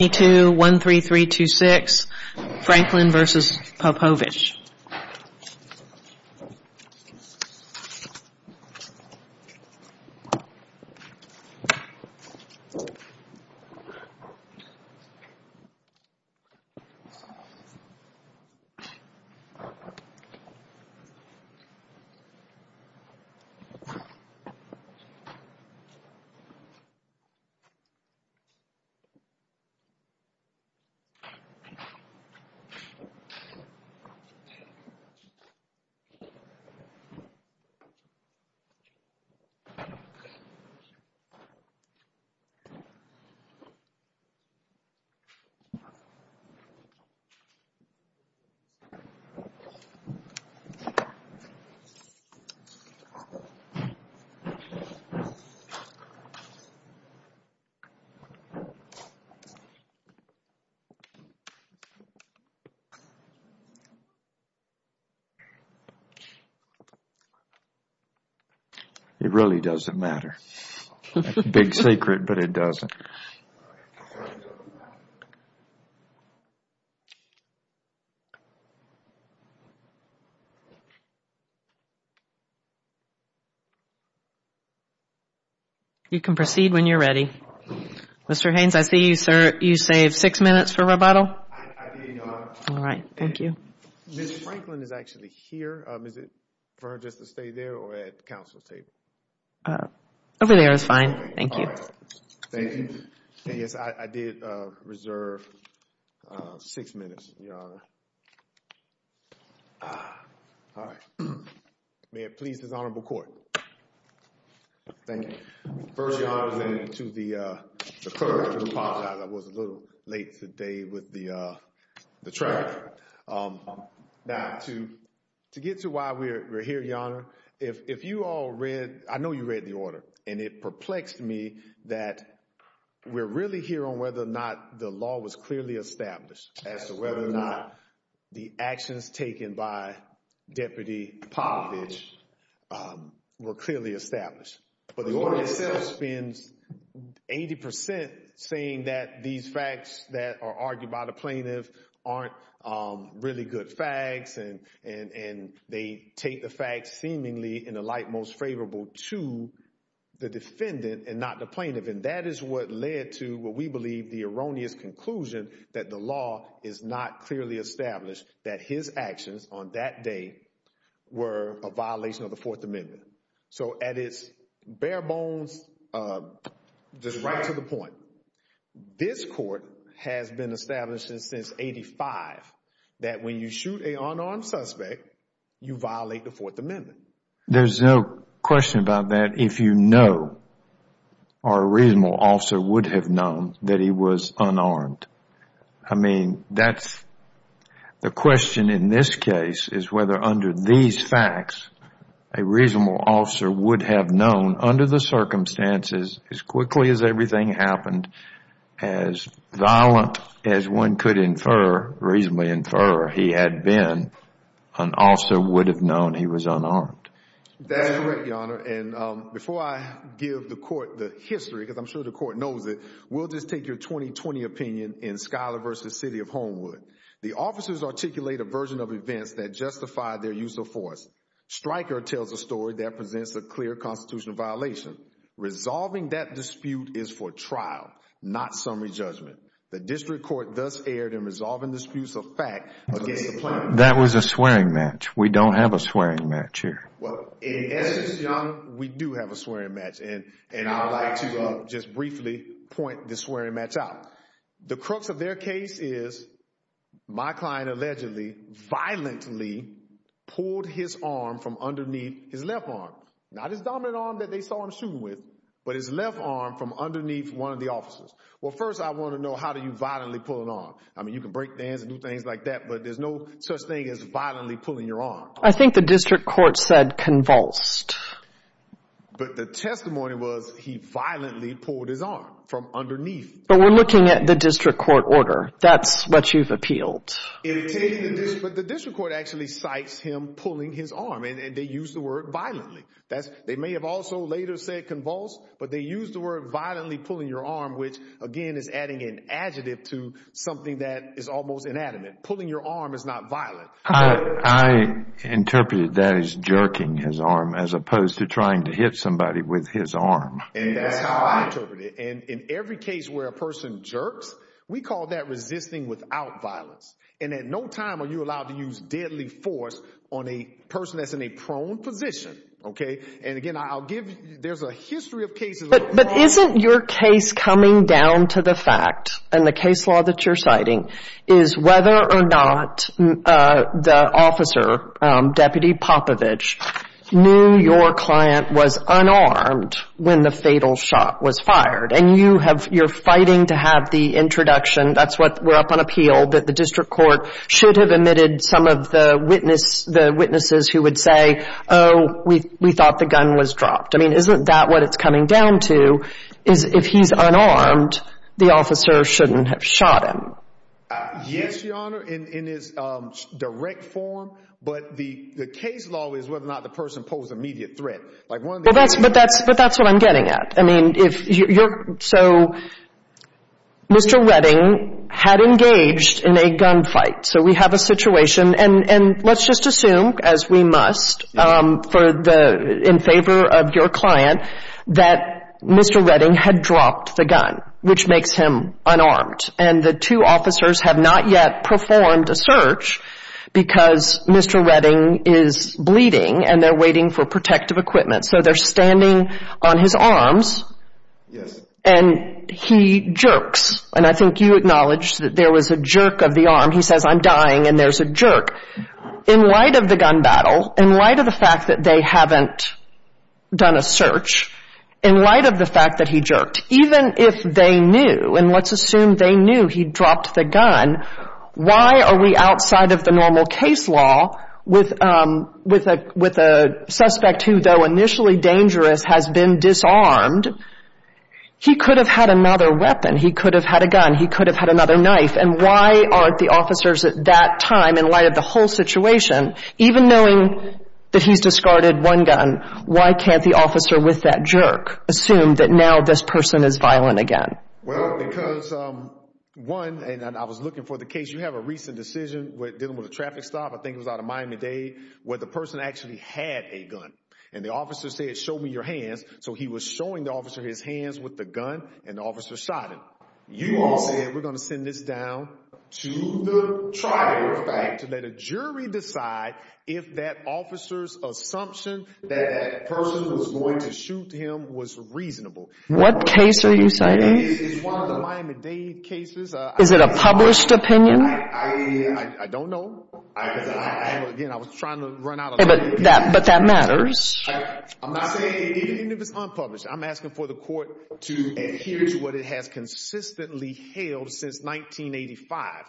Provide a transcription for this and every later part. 2, 1, 3, 3, 2, 6, Franklin v. Popovich It really doesn't matter. It's a big secret, but it doesn't. You can proceed when you're ready. Mr. Haynes, I see you saved six minutes for rebuttal. I did not. All right. Thank you. Ms. Franklin is actually here. Is it for her just to stay there or at the council table? Over there is fine. Thank you. All right. Thank you. Yes, I did reserve six minutes, Your Honor. All right. May it please this honorable court. Thank you. First, Your Honor, to the clerk, I apologize I was a little late today with the traffic. Now, to get to why we're here, Your Honor, if you all read, I know you read the order, and it perplexed me that we're really here on whether or not the law was clearly established as to whether or not the actions taken by Deputy Popovich were clearly established. But the order itself spends 80 percent saying that these facts that are argued by the plaintiff aren't really good facts, and they take the facts seemingly in the light most favorable to the defendant and not the plaintiff. And that is what led to what we believe the erroneous conclusion that the law is not clearly established, that his actions on that day were a violation of the Fourth Amendment. So at its bare bones, just right to the point, this court has been established since 1985 that when you shoot an unarmed suspect, you violate the Fourth Amendment. There's no question about that if you know or a reasonable officer would have known that he was unarmed. I mean, the question in this case is whether under these facts a reasonable officer would have known under the circumstances, as quickly as everything happened, as violent as one could infer, reasonably infer, he had been, an officer would have known he was unarmed. That's right, Your Honor. And before I give the court the history, because I'm sure the court knows it, we'll just take your 2020 opinion in Schuyler v. City of Homewood. The officers articulate a version of events that justify their use of force. Stryker tells a story that presents a clear constitutional violation. Resolving that dispute is for trial, not summary judgment. The district court thus erred in resolving disputes of fact against the plaintiff. That was a swearing match. We don't have a swearing match here. Well, in essence, Your Honor, we do have a swearing match, and I would like to just briefly point the swearing match out. The crux of their case is my client allegedly violently pulled his arm from underneath his left arm, not his dominant arm that they saw him shooting with, but his left arm from underneath one of the officers. Well, first I want to know how do you violently pull an arm? I mean, you can break the hands and do things like that, but there's no such thing as violently pulling your arm. I think the district court said convulsed. But the testimony was he violently pulled his arm from underneath. But we're looking at the district court order. That's what you've appealed. But the district court actually cites him pulling his arm, and they used the word violently. They may have also later said convulsed, but they used the word violently pulling your arm, which, again, is adding an adjective to something that is almost inanimate. Pulling your arm is not violent. I interpreted that as jerking his arm as opposed to trying to hit somebody with his arm. And that's how I interpret it. And in every case where a person jerks, we call that resisting without violence. And at no time are you allowed to use deadly force on a person that's in a prone position, okay? And, again, I'll give you—there's a history of cases— But isn't your case coming down to the fact, and the case law that you're citing, is whether or not the officer, Deputy Popovich, knew your client was unarmed when the fatal shot was fired? And you're fighting to have the introduction—that's what we're up on appeal— that the district court should have admitted some of the witnesses who would say, oh, we thought the gun was dropped. I mean, isn't that what it's coming down to, is if he's unarmed, the officer shouldn't have shot him? Yes, Your Honor, in his direct form. But the case law is whether or not the person posed immediate threat. But that's what I'm getting at. I mean, if you're—so Mr. Redding had engaged in a gunfight. So we have a situation—and let's just assume, as we must, in favor of your client, that Mr. Redding had dropped the gun, which makes him unarmed. And the two officers have not yet performed a search because Mr. Redding is bleeding, and they're waiting for protective equipment. So they're standing on his arms, and he jerks. And I think you acknowledged that there was a jerk of the arm. He says, I'm dying, and there's a jerk. In light of the gun battle, in light of the fact that they haven't done a search, in light of the fact that he jerked, even if they knew, and let's assume they knew he dropped the gun, why are we outside of the normal case law with a suspect who, though initially dangerous, has been disarmed? He could have had another weapon. He could have had a gun. He could have had another knife. And why aren't the officers at that time, in light of the whole situation, even knowing that he's discarded one gun, why can't the officer with that jerk assume that now this person is violent again? Well, because, one—and I was looking for the case. You have a recent decision dealing with a traffic stop, I think it was out of Miami-Dade, where the person actually had a gun. And the officer said, show me your hands. So he was showing the officer his hands with the gun, and the officer shot him. You all said we're going to send this down to the trial, in fact, to let a jury decide if that officer's assumption that that person was going to shoot him was reasonable. What case are you citing? It's one of the Miami-Dade cases. Is it a published opinion? I don't know. Again, I was trying to run out of time. But that matters. I'm not saying—even if it's unpublished, I'm asking for the court to adhere to what it has consistently held since 1985.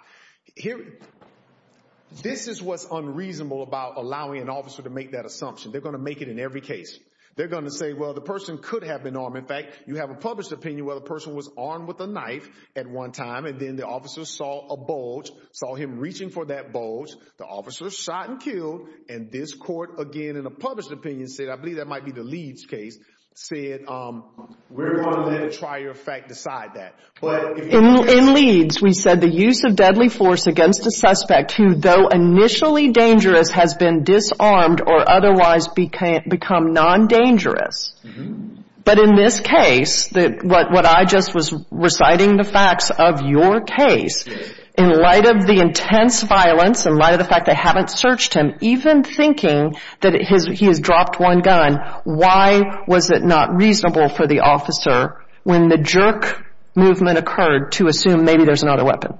This is what's unreasonable about allowing an officer to make that assumption. They're going to make it in every case. They're going to say, well, the person could have been armed. In fact, you have a published opinion where the person was armed with a knife at one time, and then the officer saw a bulge, saw him reaching for that bulge. The officer shot and killed. And this court, again, in a published opinion, said—I believe that might be the Leeds case—said, we're going to let a trier of fact decide that. In Leeds, we said the use of deadly force against a suspect who, though initially dangerous, has been disarmed or otherwise become non-dangerous. But in this case, what I just was reciting, the facts of your case, in light of the intense violence, in light of the fact they haven't searched him, even thinking that he has dropped one gun, why was it not reasonable for the officer, when the jerk movement occurred, to assume maybe there's another weapon?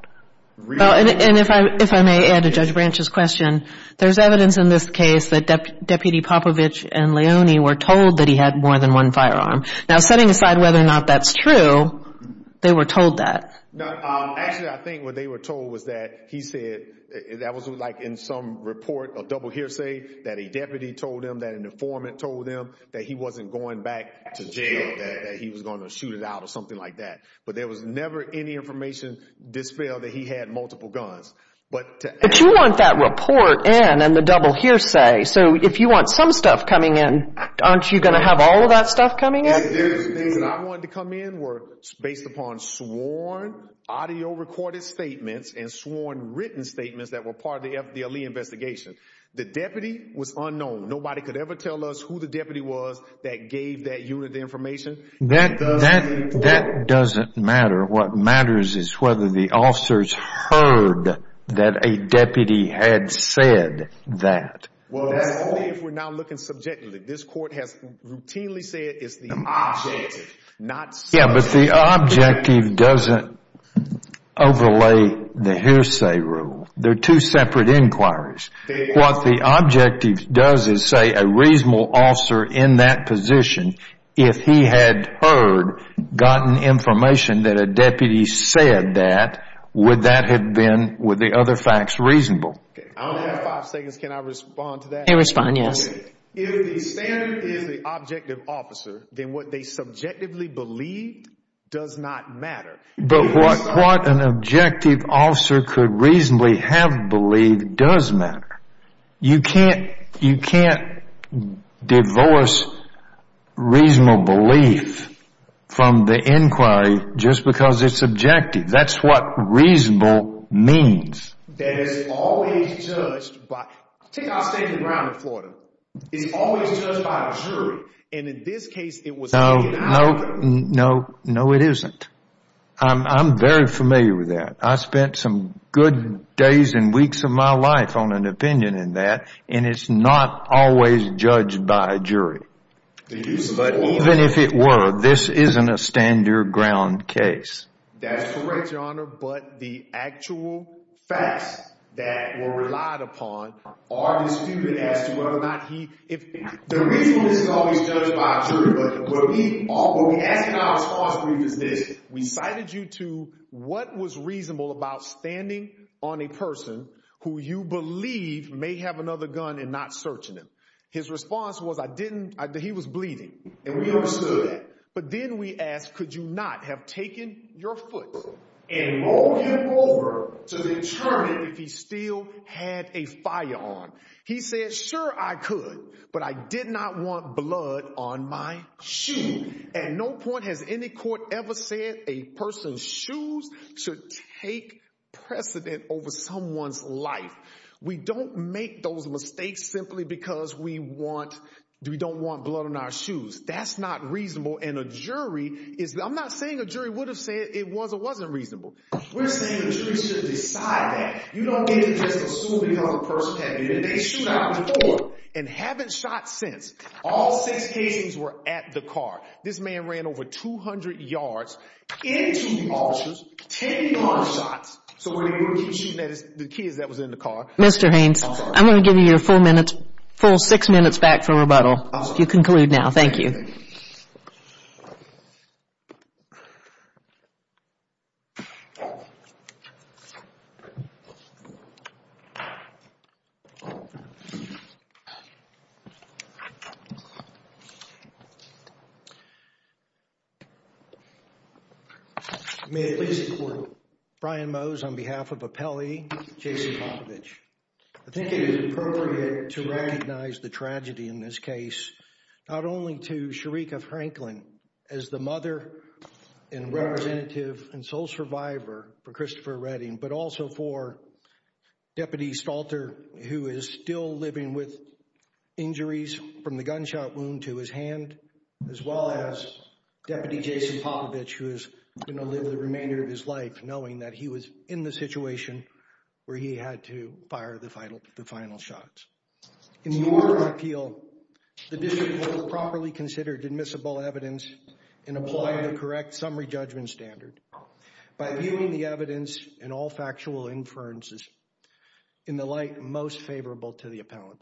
And if I may add to Judge Branch's question, there's evidence in this case that Deputy Popovich and Leone were told that he had more than one firearm. Now, setting aside whether or not that's true, they were told that. Actually, I think what they were told was that he said—that was in some report, a double hearsay, that a deputy told them, that an informant told them, that he wasn't going back to jail, that he was going to shoot it out or something like that. But there was never any information dispelled that he had multiple guns. But you want that report in and the double hearsay, so if you want some stuff coming in, aren't you going to have all of that stuff coming in? The things that I wanted to come in were based upon sworn audio recorded statements and sworn written statements that were part of the FDLE investigation. The deputy was unknown. Nobody could ever tell us who the deputy was that gave that unit the information. That doesn't matter. What matters is whether the officers heard that a deputy had said that. Well, let's see if we're now looking subjectively. This court has routinely said it's the objective, not subjectivity. Yeah, but the objective doesn't overlay the hearsay rule. They're two separate inquiries. What the objective does is say a reasonable officer in that position, if he had heard, gotten information that a deputy said that, would that have been, would the other facts, reasonable? I only have five seconds. Can I respond to that? You can respond, yes. If the standard is the objective officer, then what they subjectively believed does not matter. But what an objective officer could reasonably have believed does matter. You can't divorce reasonable belief from the inquiry just because it's objective. That's what reasonable means. That is always judged by, take our standard ground in Florida. It's always judged by a jury, and in this case it was taken out of them. No, no, no, no it isn't. I'm very familiar with that. I spent some good days and weeks of my life on an opinion in that, and it's not always judged by a jury. Even if it were, this isn't a standard ground case. That's correct, Your Honor, but the actual facts that were relied upon are disputed as to whether or not he, the reason this is always judged by a jury, but what we asked in our response brief is this. We cited you to what was reasonable about standing on a person who you believe may have another gun and not searching him. His response was, I didn't, he was bleeding, and we understood that. But then we asked, could you not have taken your foot and rolled him over to determine if he still had a firearm? He said, sure, I could, but I did not want blood on my shoe. At no point has any court ever said a person's shoes should take precedent over someone's life. We don't make those mistakes simply because we want, we don't want blood on our shoes. That's not reasonable, and a jury is, I'm not saying a jury would have said it was or wasn't reasonable. We're saying the jury should decide that. You don't get it just assuming another person had it, and they shoot out before and haven't shot since. All six cases were at the car. This man ran over 200 yards into the officers, 10 yard shots, so when he would keep shooting at the kids that was in the car. Mr. Haynes, I'm going to give you your full minutes, full six minutes back for rebuttal. You conclude now, thank you. May it please the court. Brian Mose on behalf of Appelli, Jason Popovich. I think it is appropriate to recognize the tragedy in this case. Not only to Sharika Franklin as the mother and representative and sole survivor for Christopher Redding, but also for Deputy Stalter who is still living with injuries from the gunshot wound to his hand, as well as Deputy Jason Popovich who is going to live the remainder of his life knowing that he was in the situation where he had to fire the final shots. In the order of appeal, the district court properly considered admissible evidence and applied the correct summary judgment standard by viewing the evidence and all factual inferences in the light most favorable to the appellant.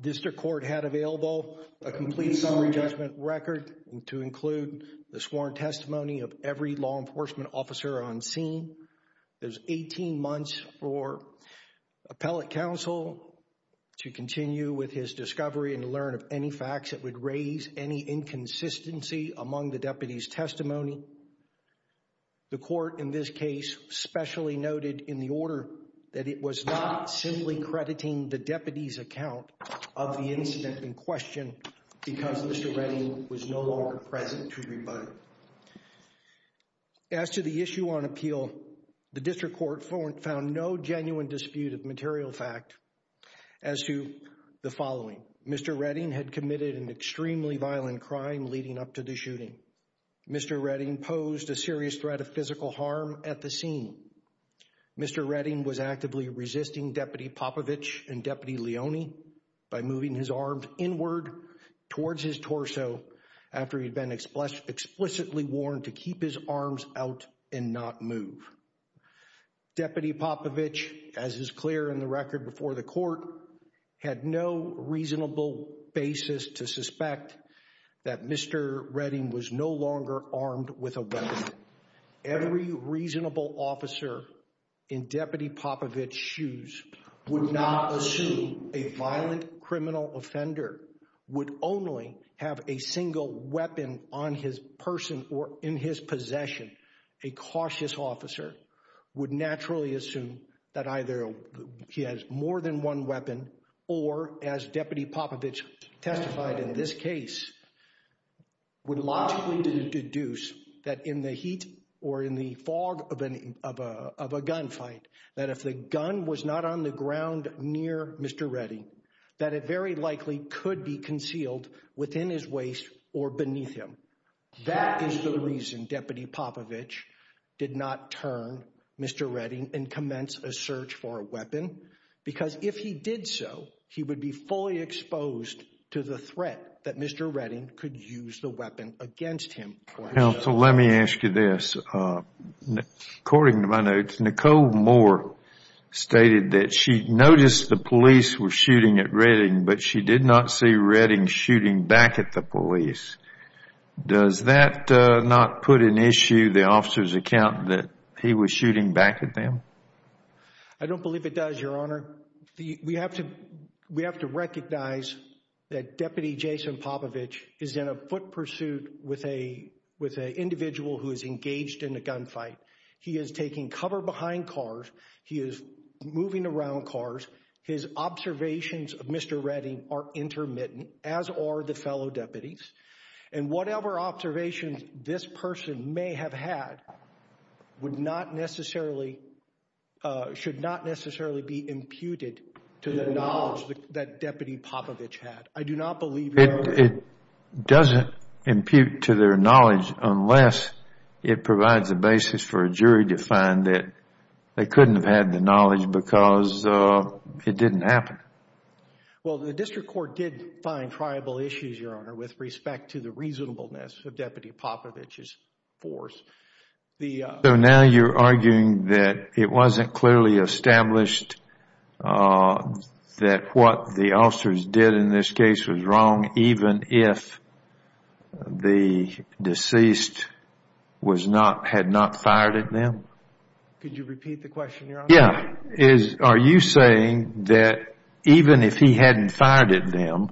District court had available a complete summary judgment record to include the sworn testimony of every law enforcement officer on scene. There's 18 months for appellate counsel to continue with his discovery and learn of any facts that would raise any inconsistency among the deputy's testimony. The court in this case specially noted in the order that it was not simply crediting the deputy's account of the incident in question because Mr. Redding was no longer present to rebut it. As to the issue on appeal, the district court found no genuine dispute of material fact as to the following. Mr. Redding had committed an extremely violent crime leading up to the shooting. Mr. Redding posed a serious threat of physical harm at the scene. Mr. Redding was actively resisting Deputy Popovich and Deputy Leone by moving his arms inward towards his torso after he'd been explicitly warned to keep his arms out and not move. Deputy Popovich, as is clear in the record before the court, had no reasonable basis to suspect that Mr. Redding was no longer armed with a weapon. Every reasonable officer in Deputy Popovich's shoes would not assume a violent criminal offender would only have a single weapon on his person or in his possession. A cautious officer would naturally assume that either he has more than one weapon or, as Deputy Popovich testified in this case, would logically deduce that in the heat or in the fog of a gunfight, that if the gun was not on the ground near Mr. Redding, that it very likely could be concealed within his waist or beneath him. That is the reason Deputy Popovich did not turn Mr. Redding and commence a search for a weapon because if he did so, he would be fully exposed to the threat that Mr. Redding could use the weapon against him. Counsel, let me ask you this. According to my notes, Nicole Moore stated that she noticed the police were shooting at Redding, but she did not see Redding shooting back at the police. Does that not put in issue the officer's account that he was shooting back at them? I don't believe it does, Your Honor. We have to recognize that Deputy Jason Popovich is in a foot pursuit with an individual who is engaged in a gunfight. He is taking cover behind cars. He is moving around cars. His observations of Mr. Redding are intermittent, as are the fellow deputies, and whatever observations this person may have had would not necessarily should not necessarily be imputed to the knowledge that Deputy Popovich had. I do not believe, Your Honor. It doesn't impute to their knowledge unless it provides a basis for a jury to find that they couldn't have had the knowledge because it didn't happen. Well, the district court did find triable issues, Your Honor, with respect to the reasonableness of Deputy Popovich's force. So now you're arguing that it wasn't clearly established that what the officers did in this case was wrong even if the deceased had not fired at them? Could you repeat the question, Your Honor? Yes. Are you saying that even if he hadn't fired at them,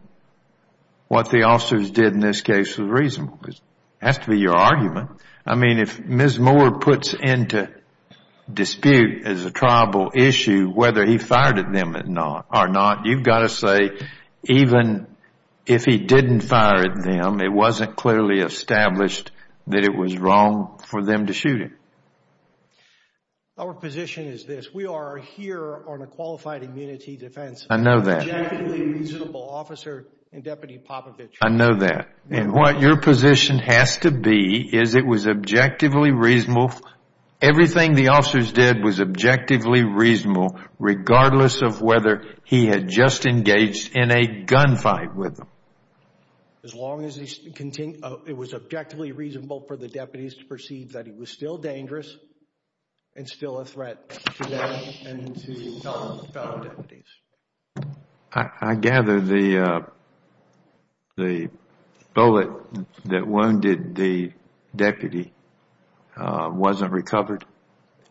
what the officers did in this case was reasonable? It has to be your argument. I mean, if Ms. Moore puts into dispute as a triable issue whether he fired at them or not, you've got to say even if he didn't fire at them, it wasn't clearly established that it was wrong for them to shoot him. Our position is this. We are here on a qualified immunity defense. I know that. Objectively reasonable, Officer and Deputy Popovich. I know that. And what your position has to be is it was objectively reasonable. Everything the officers did was objectively reasonable regardless of whether he had just engaged in a gunfight with them. As long as it was objectively reasonable for the deputies to perceive that he was still dangerous and still a threat to them and to fellow deputies. I gather the bullet that wounded the deputy wasn't recovered.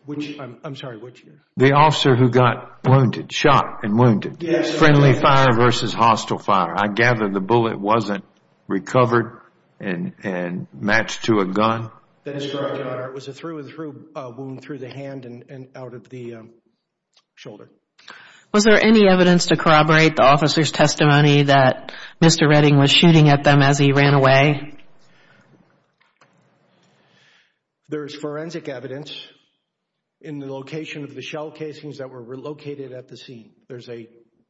I'm sorry, which? The officer who got wounded, shot and wounded. Yes. Friendly fire versus hostile fire. I gather the bullet wasn't recovered and matched to a gun. That is correct, Your Honor. It was a through and through wound through the hand and out of the shoulder. Was there any evidence to corroborate the officer's testimony that Mr. Redding was shooting at them as he ran away? There is forensic evidence in the location of the shell casings that were located at the scene.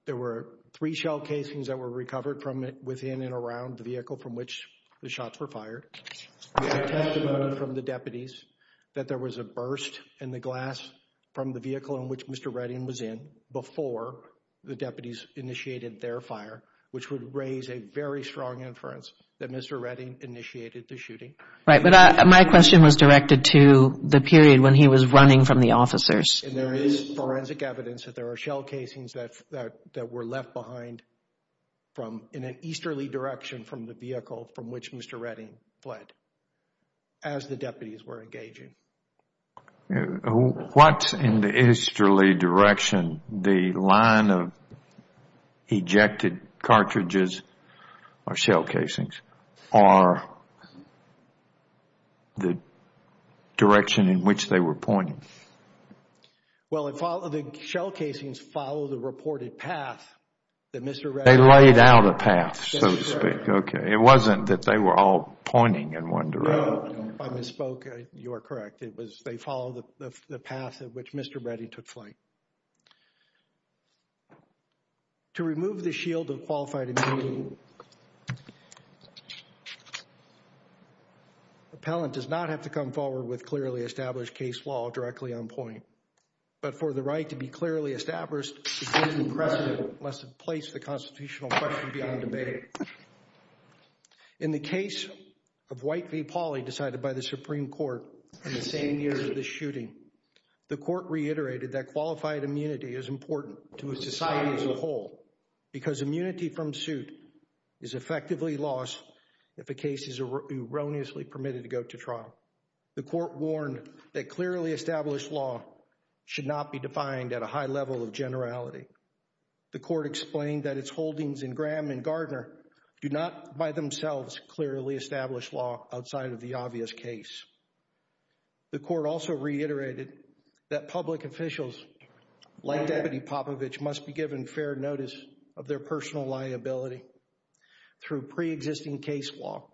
There were three shell casings that were recovered from within and around the vehicle from which the shots were fired. We have testimony from the deputies that there was a burst in the glass from the vehicle in which Mr. Redding was in before the deputies initiated their fire, which would raise a very strong inference that Mr. Redding initiated the shooting. Right, but my question was directed to the period when he was running from the officers. There is forensic evidence that there are shell casings that were left behind in an easterly direction from the vehicle from which Mr. Redding fled as the deputies were engaging. What's in the easterly direction? The line of ejected cartridges or shell casings or the direction in which they were pointing? Well, the shell casings follow the reported path that Mr. Redding... They laid out a path, so to speak. It wasn't that they were all pointing in one direction. No, I misspoke. You are correct. It was they follow the path in which Mr. Redding took flight. To remove the shield of qualified immunity, appellant does not have to come forward with clearly established case law directly on point. But for the right to be clearly established, it is impressive unless it places the constitutional question beyond debate. In the case of White v. Pauley decided by the Supreme Court in the same year of the shooting, the court reiterated that qualified immunity is important to a society as a whole because immunity from suit is effectively lost if a case is erroneously permitted to go to trial. The court warned that clearly established law should not be defined at a high level of generality. The court explained that its holdings in Graham and Gardner do not by themselves clearly establish law outside of the obvious case. The court also reiterated that public officials like Deputy Popovich must be given fair notice of their personal liability through pre-existing case law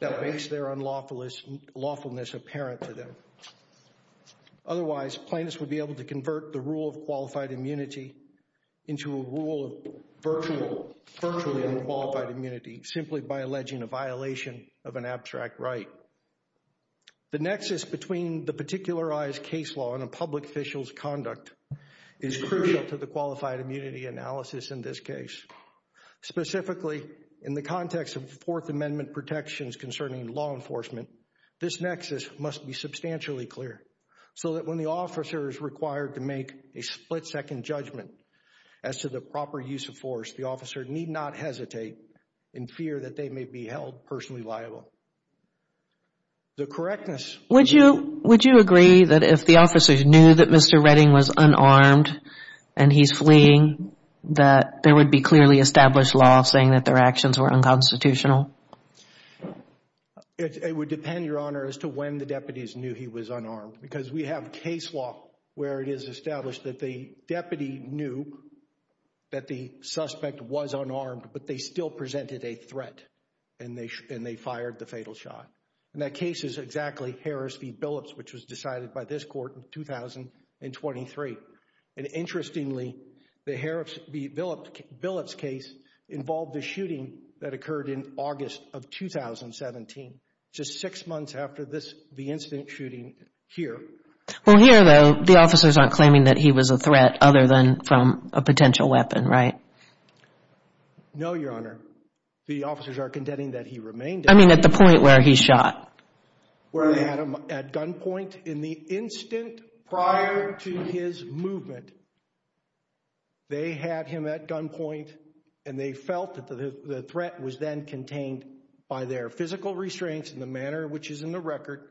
that makes their unlawfulness apparent to them. Otherwise, plaintiffs would be able to convert the rule of qualified immunity into a rule of virtually unqualified immunity simply by alleging a violation of an abstract right. The nexus between the particularized case law and a public official's conduct is crucial to the qualified immunity analysis in this case. Specifically, in the context of Fourth Amendment protections concerning law enforcement, this nexus must be substantially clear so that when the officer is required to make a split-second judgment as to the proper use of force, the officer need not hesitate in fear that they may be held personally liable. The correctness... Would you agree that if the officer knew that Mr. Redding was unarmed and he's fleeing, that there would be clearly established law saying that their actions were unconstitutional? It would depend, Your Honor, as to when the deputies knew he was unarmed because we have case law where it is established that the deputy knew that the suspect was unarmed, but they still presented a threat and they fired the fatal shot. And that case is exactly Harris v. Billups, which was decided by this court in 2023. And interestingly, the Billups case involved the shooting that occurred in August of 2017, just six months after the incident shooting here. Well, here, though, the officers aren't claiming that he was a threat other than from a potential weapon, right? No, Your Honor. The officers are condemning that he remained... I mean, at the point where he shot. Where they had him at gunpoint in the instant prior to his movement. They had him at gunpoint and they felt that the threat was then contained by their physical restraints in the manner which is in the record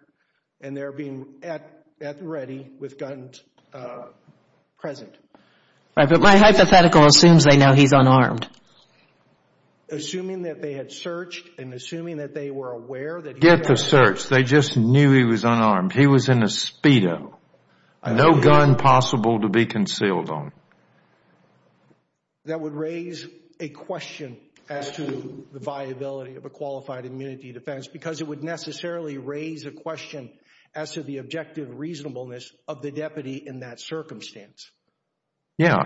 and their being at ready with guns present. Right, but my hypothetical assumes they know he's unarmed. Assuming that they had searched and assuming that they were aware... Get the search. They just knew he was unarmed. He was in a Speedo. No gun possible to be concealed on. That would raise a question as to the viability of a qualified immunity defense because it would necessarily raise a question as to the objective reasonableness of the deputy in that circumstance. Yeah.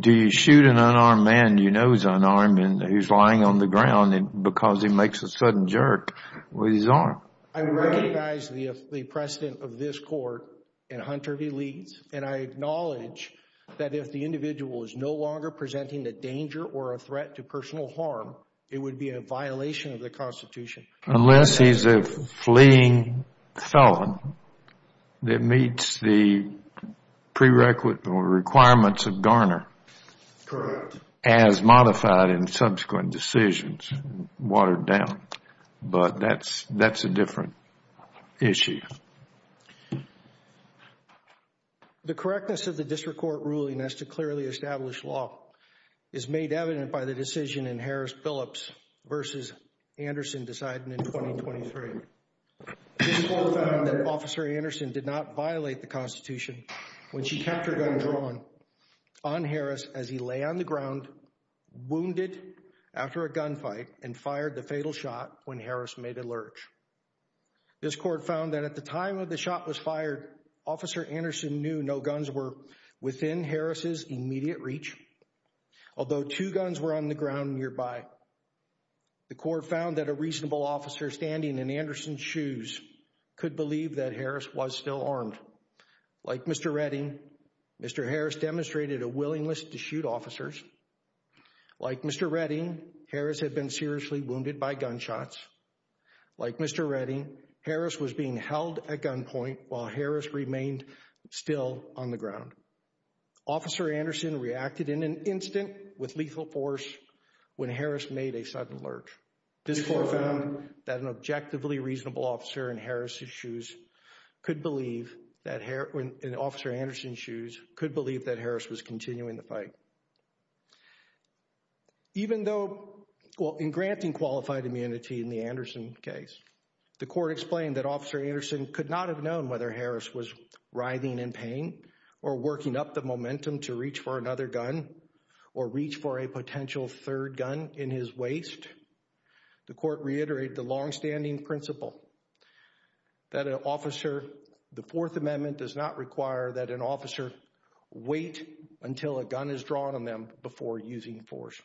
Do you shoot an unarmed man you know is unarmed and he's lying on the ground because he makes a sudden jerk with his arm? I recognize the precedent of this court in Hunter v. Leeds and I acknowledge that if the individual is no longer presenting a danger or a threat to personal harm, it would be a violation of the Constitution. Unless he's a fleeing felon that meets the prerequisite or requirements of Garner... Correct.... as modified in subsequent decisions, watered down. But that's a different issue. The correctness of the district court ruling as to clearly establish law is made evident by the decision in Harris-Phillips v. Anderson deciding in 2023. This court found that Officer Anderson did not violate the Constitution when she kept her gun drawn on Harris as he lay on the ground wounded after a gunfight and fired the fatal shot when Harris made a lurch. This court found that at the time of the shot was fired, Officer Anderson knew no guns were within Harris' immediate reach, although two guns were on the ground nearby. The court found that a reasonable officer standing in Anderson's shoes could believe that Harris was still armed. Like Mr. Redding, Mr. Harris demonstrated a willingness to shoot officers. Like Mr. Redding, Harris had been seriously wounded by gunshots. Like Mr. Redding, Harris was being held at gunpoint while Harris remained still on the ground. Officer Anderson reacted in an instant with lethal force when Harris made a sudden lurch. This court found that an objectively reasonable officer in Officer Anderson's shoes could believe that Harris was continuing the fight. Even though in granting qualified immunity in the Anderson case, the court explained that Officer Anderson could not have known whether Harris was writhing in pain or working up the momentum to reach for another gun or reach for a potential third gun in his waist. The court reiterated the longstanding principle that an officer, the Fourth Amendment does not require that an officer wait until a gun is drawn on them before using force.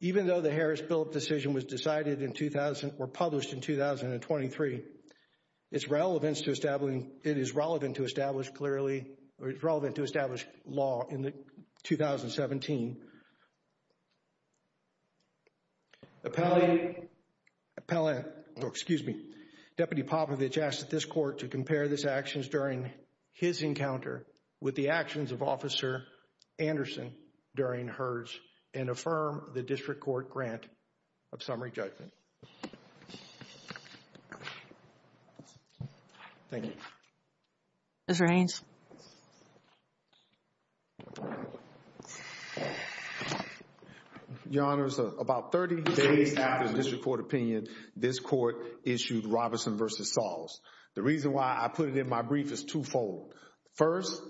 Even though the Harris-Phillips decision was decided in 2000, or published in 2023, it is relevant to establish law in 2017. Deputy Popovich asked that this court to compare these actions during his encounter with the actions of Officer Anderson during hers and affirm the district court grant of summary judgment. Thank you. Ms. Raines. Your Honor, about 30 days after the district court opinion, this court issued Robertson v. Sauls. The reason why I put it in my brief is twofold. First,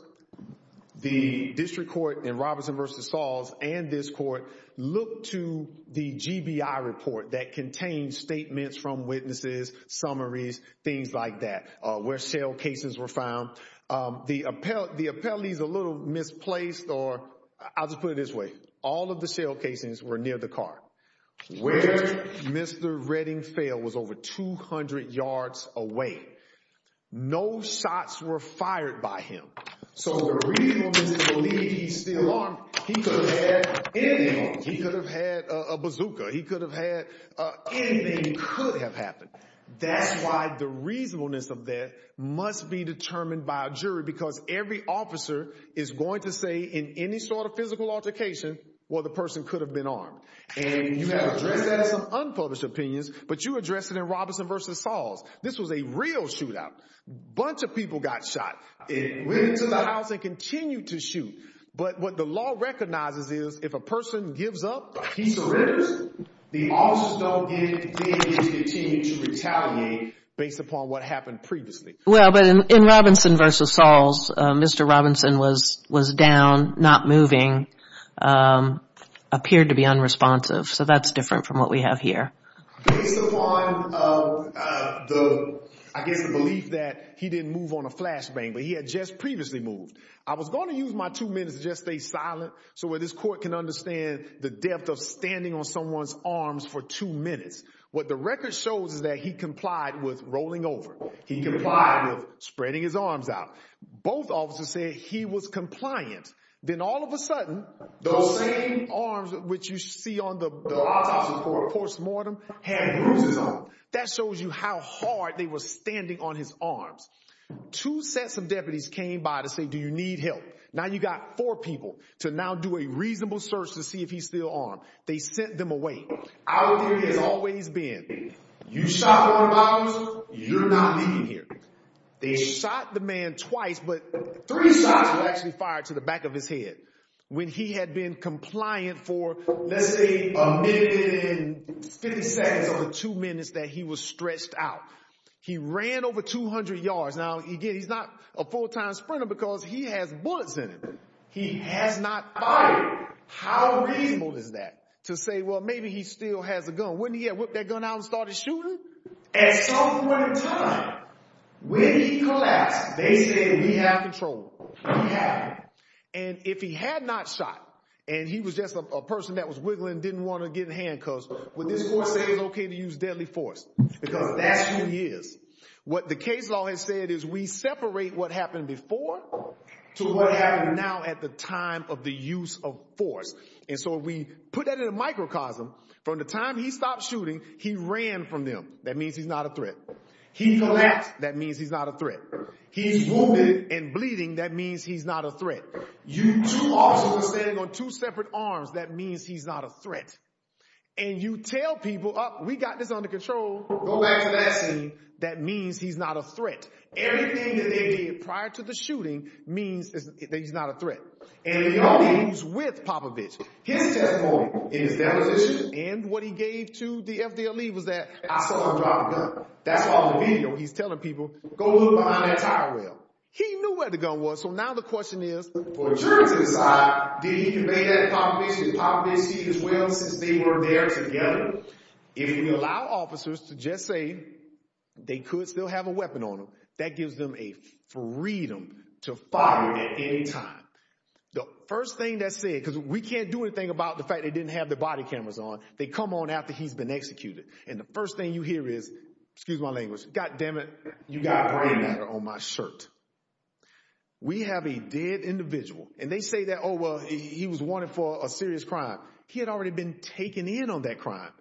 the district court in Robertson v. Sauls and this court looked to the GBI report that contained statements from witnesses, summaries, things like that, where shell casings were found. The appellate is a little misplaced, or I'll just put it this way. All of the shell casings were near the car. Where Mr. Redding fell was over 200 yards away. No shots were fired by him. So the reason is to believe he's still armed. He could have had anything. He could have had a bazooka. He could have had anything could have happened. That's why the reasonableness of that must be determined by a jury because every officer is going to say in any sort of physical altercation, well, the person could have been armed. And you have addressed that in some unpublished opinions, but you addressed it in Robertson v. Sauls. This was a real shootout. A bunch of people got shot. It went into the house and continued to shoot. But what the law recognizes is if a person gives up, he surrenders, the officers don't get to continue to retaliate based upon what happened previously. Well, but in Robinson v. Sauls, Mr. Robinson was down, not moving, appeared to be unresponsive. So that's different from what we have here. Based upon the, I guess, the belief that he didn't move on a flashbang, but he had just previously moved. I was going to use my two minutes to just stay silent so that this court can understand the depth of standing on someone's arms for two minutes. What the record shows is that he complied with rolling over. He complied with spreading his arms out. Both officers said he was compliant. Then all of a sudden, those same arms which you see on the autopsy report, post-mortem, had bruises on them. That shows you how hard they were standing on his arms. Two sets of deputies came by to say, do you need help? Now you've got four people to now do a reasonable search to see if he's still armed. They sent them away. Our theory has always been, you shot one of our officers, you're not leaving here. They shot the man twice, but three shots were actually fired to the back of his head when he had been compliant for, let's say, a minute and 50 seconds of the two minutes that he was stretched out. He ran over 200 yards. Now, again, he's not a full-time sprinter because he has bullets in him. He has not fired. How reasonable is that to say, well, maybe he still has a gun? Wouldn't he have whipped that gun out and started shooting? At some point in time, when he collapsed, they said, we have control. We have it. And if he had not shot and he was just a person that was wiggling, didn't want to get in handcuffs, would this court say it's okay to use deadly force? Because that's who he is. What the case law has said is we separate what happened before to what happened now at the time of the use of force. And so we put that in a microcosm. From the time he stopped shooting, he ran from them. That means he's not a threat. He collapsed. That means he's not a threat. He's wounded and bleeding. That means he's not a threat. You two officers standing on two separate arms, that means he's not a threat. And you tell people, oh, we got this under control. Go back to that scene. That means he's not a threat. Everything that they did prior to the shooting means that he's not a threat. And you know he was with Popovich. His testimony in his deposition and what he gave to the FDLE was that, I saw him drop a gun. That's why on the video he's telling people, go look behind that tire rail. He knew where the gun was. So now the question is, for insurance to decide, did he convey that to Popovich and Popovich did as well since they were there together? If you allow officers to just say they could still have a weapon on them, that gives them a freedom to fire at any time. The first thing that's said, because we can't do anything about the fact they didn't have their body cameras on. They come on after he's been executed. And the first thing you hear is, excuse my language, God damn it, you got brain matter on my shirt. We have a dead individual. And they say that, oh, well, he was wanted for a serious crime. He had already been taken in on that crime.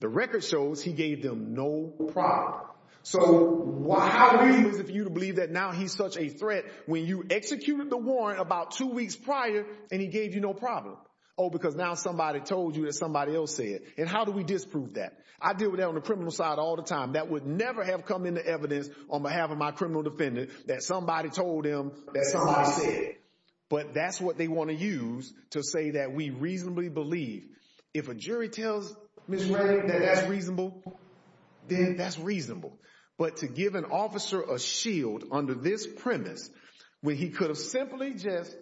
The record shows he gave them no problem. So how do we use it for you to believe that now he's such a threat when you executed the warrant about two weeks prior and he gave you no problem? Oh, because now somebody told you that somebody else said it. And how do we disprove that? I deal with that on the criminal side all the time. That would never have come into evidence on behalf of my criminal defendant that somebody told him that somebody said it. But that's what they want to use to say that we reasonably believe. If a jury tells Ms. Redding that that's reasonable, then that's reasonable. But to give an officer a shield under this premise, where he could have simply just,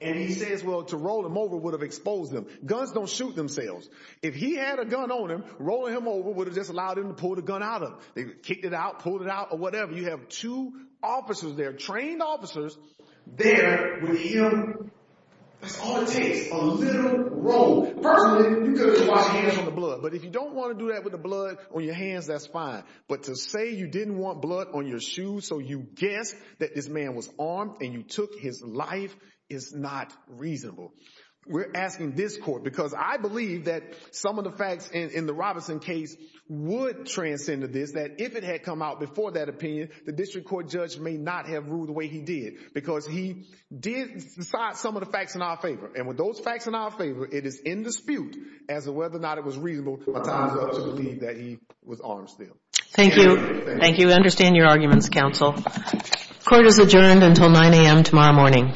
and he says, well, to roll him over would have exposed him. Guns don't shoot themselves. If he had a gun on him, rolling him over would have just allowed him to pull the gun out of him. They kicked it out, pulled it out, or whatever. You have two officers there, trained officers, there with him. That's all it takes, a little roll. Personally, you could have just washed your hands on the blood. But if you don't want to do that with the blood on your hands, that's fine. But to say you didn't want blood on your shoes, so you guessed that this man was armed and you took his life is not reasonable. We're asking this court, because I believe that some of the facts in the Robinson case would transcend to this, that if it had come out before that opinion, the district court judge may not have ruled the way he did. Because he did decide some of the facts in our favor. And with those facts in our favor, it is in dispute as to whether or not it was reasonable or time to believe that he was armed still. Thank you. Thank you. I understand your arguments, counsel. Court is adjourned until 9 a.m. tomorrow morning. All rise.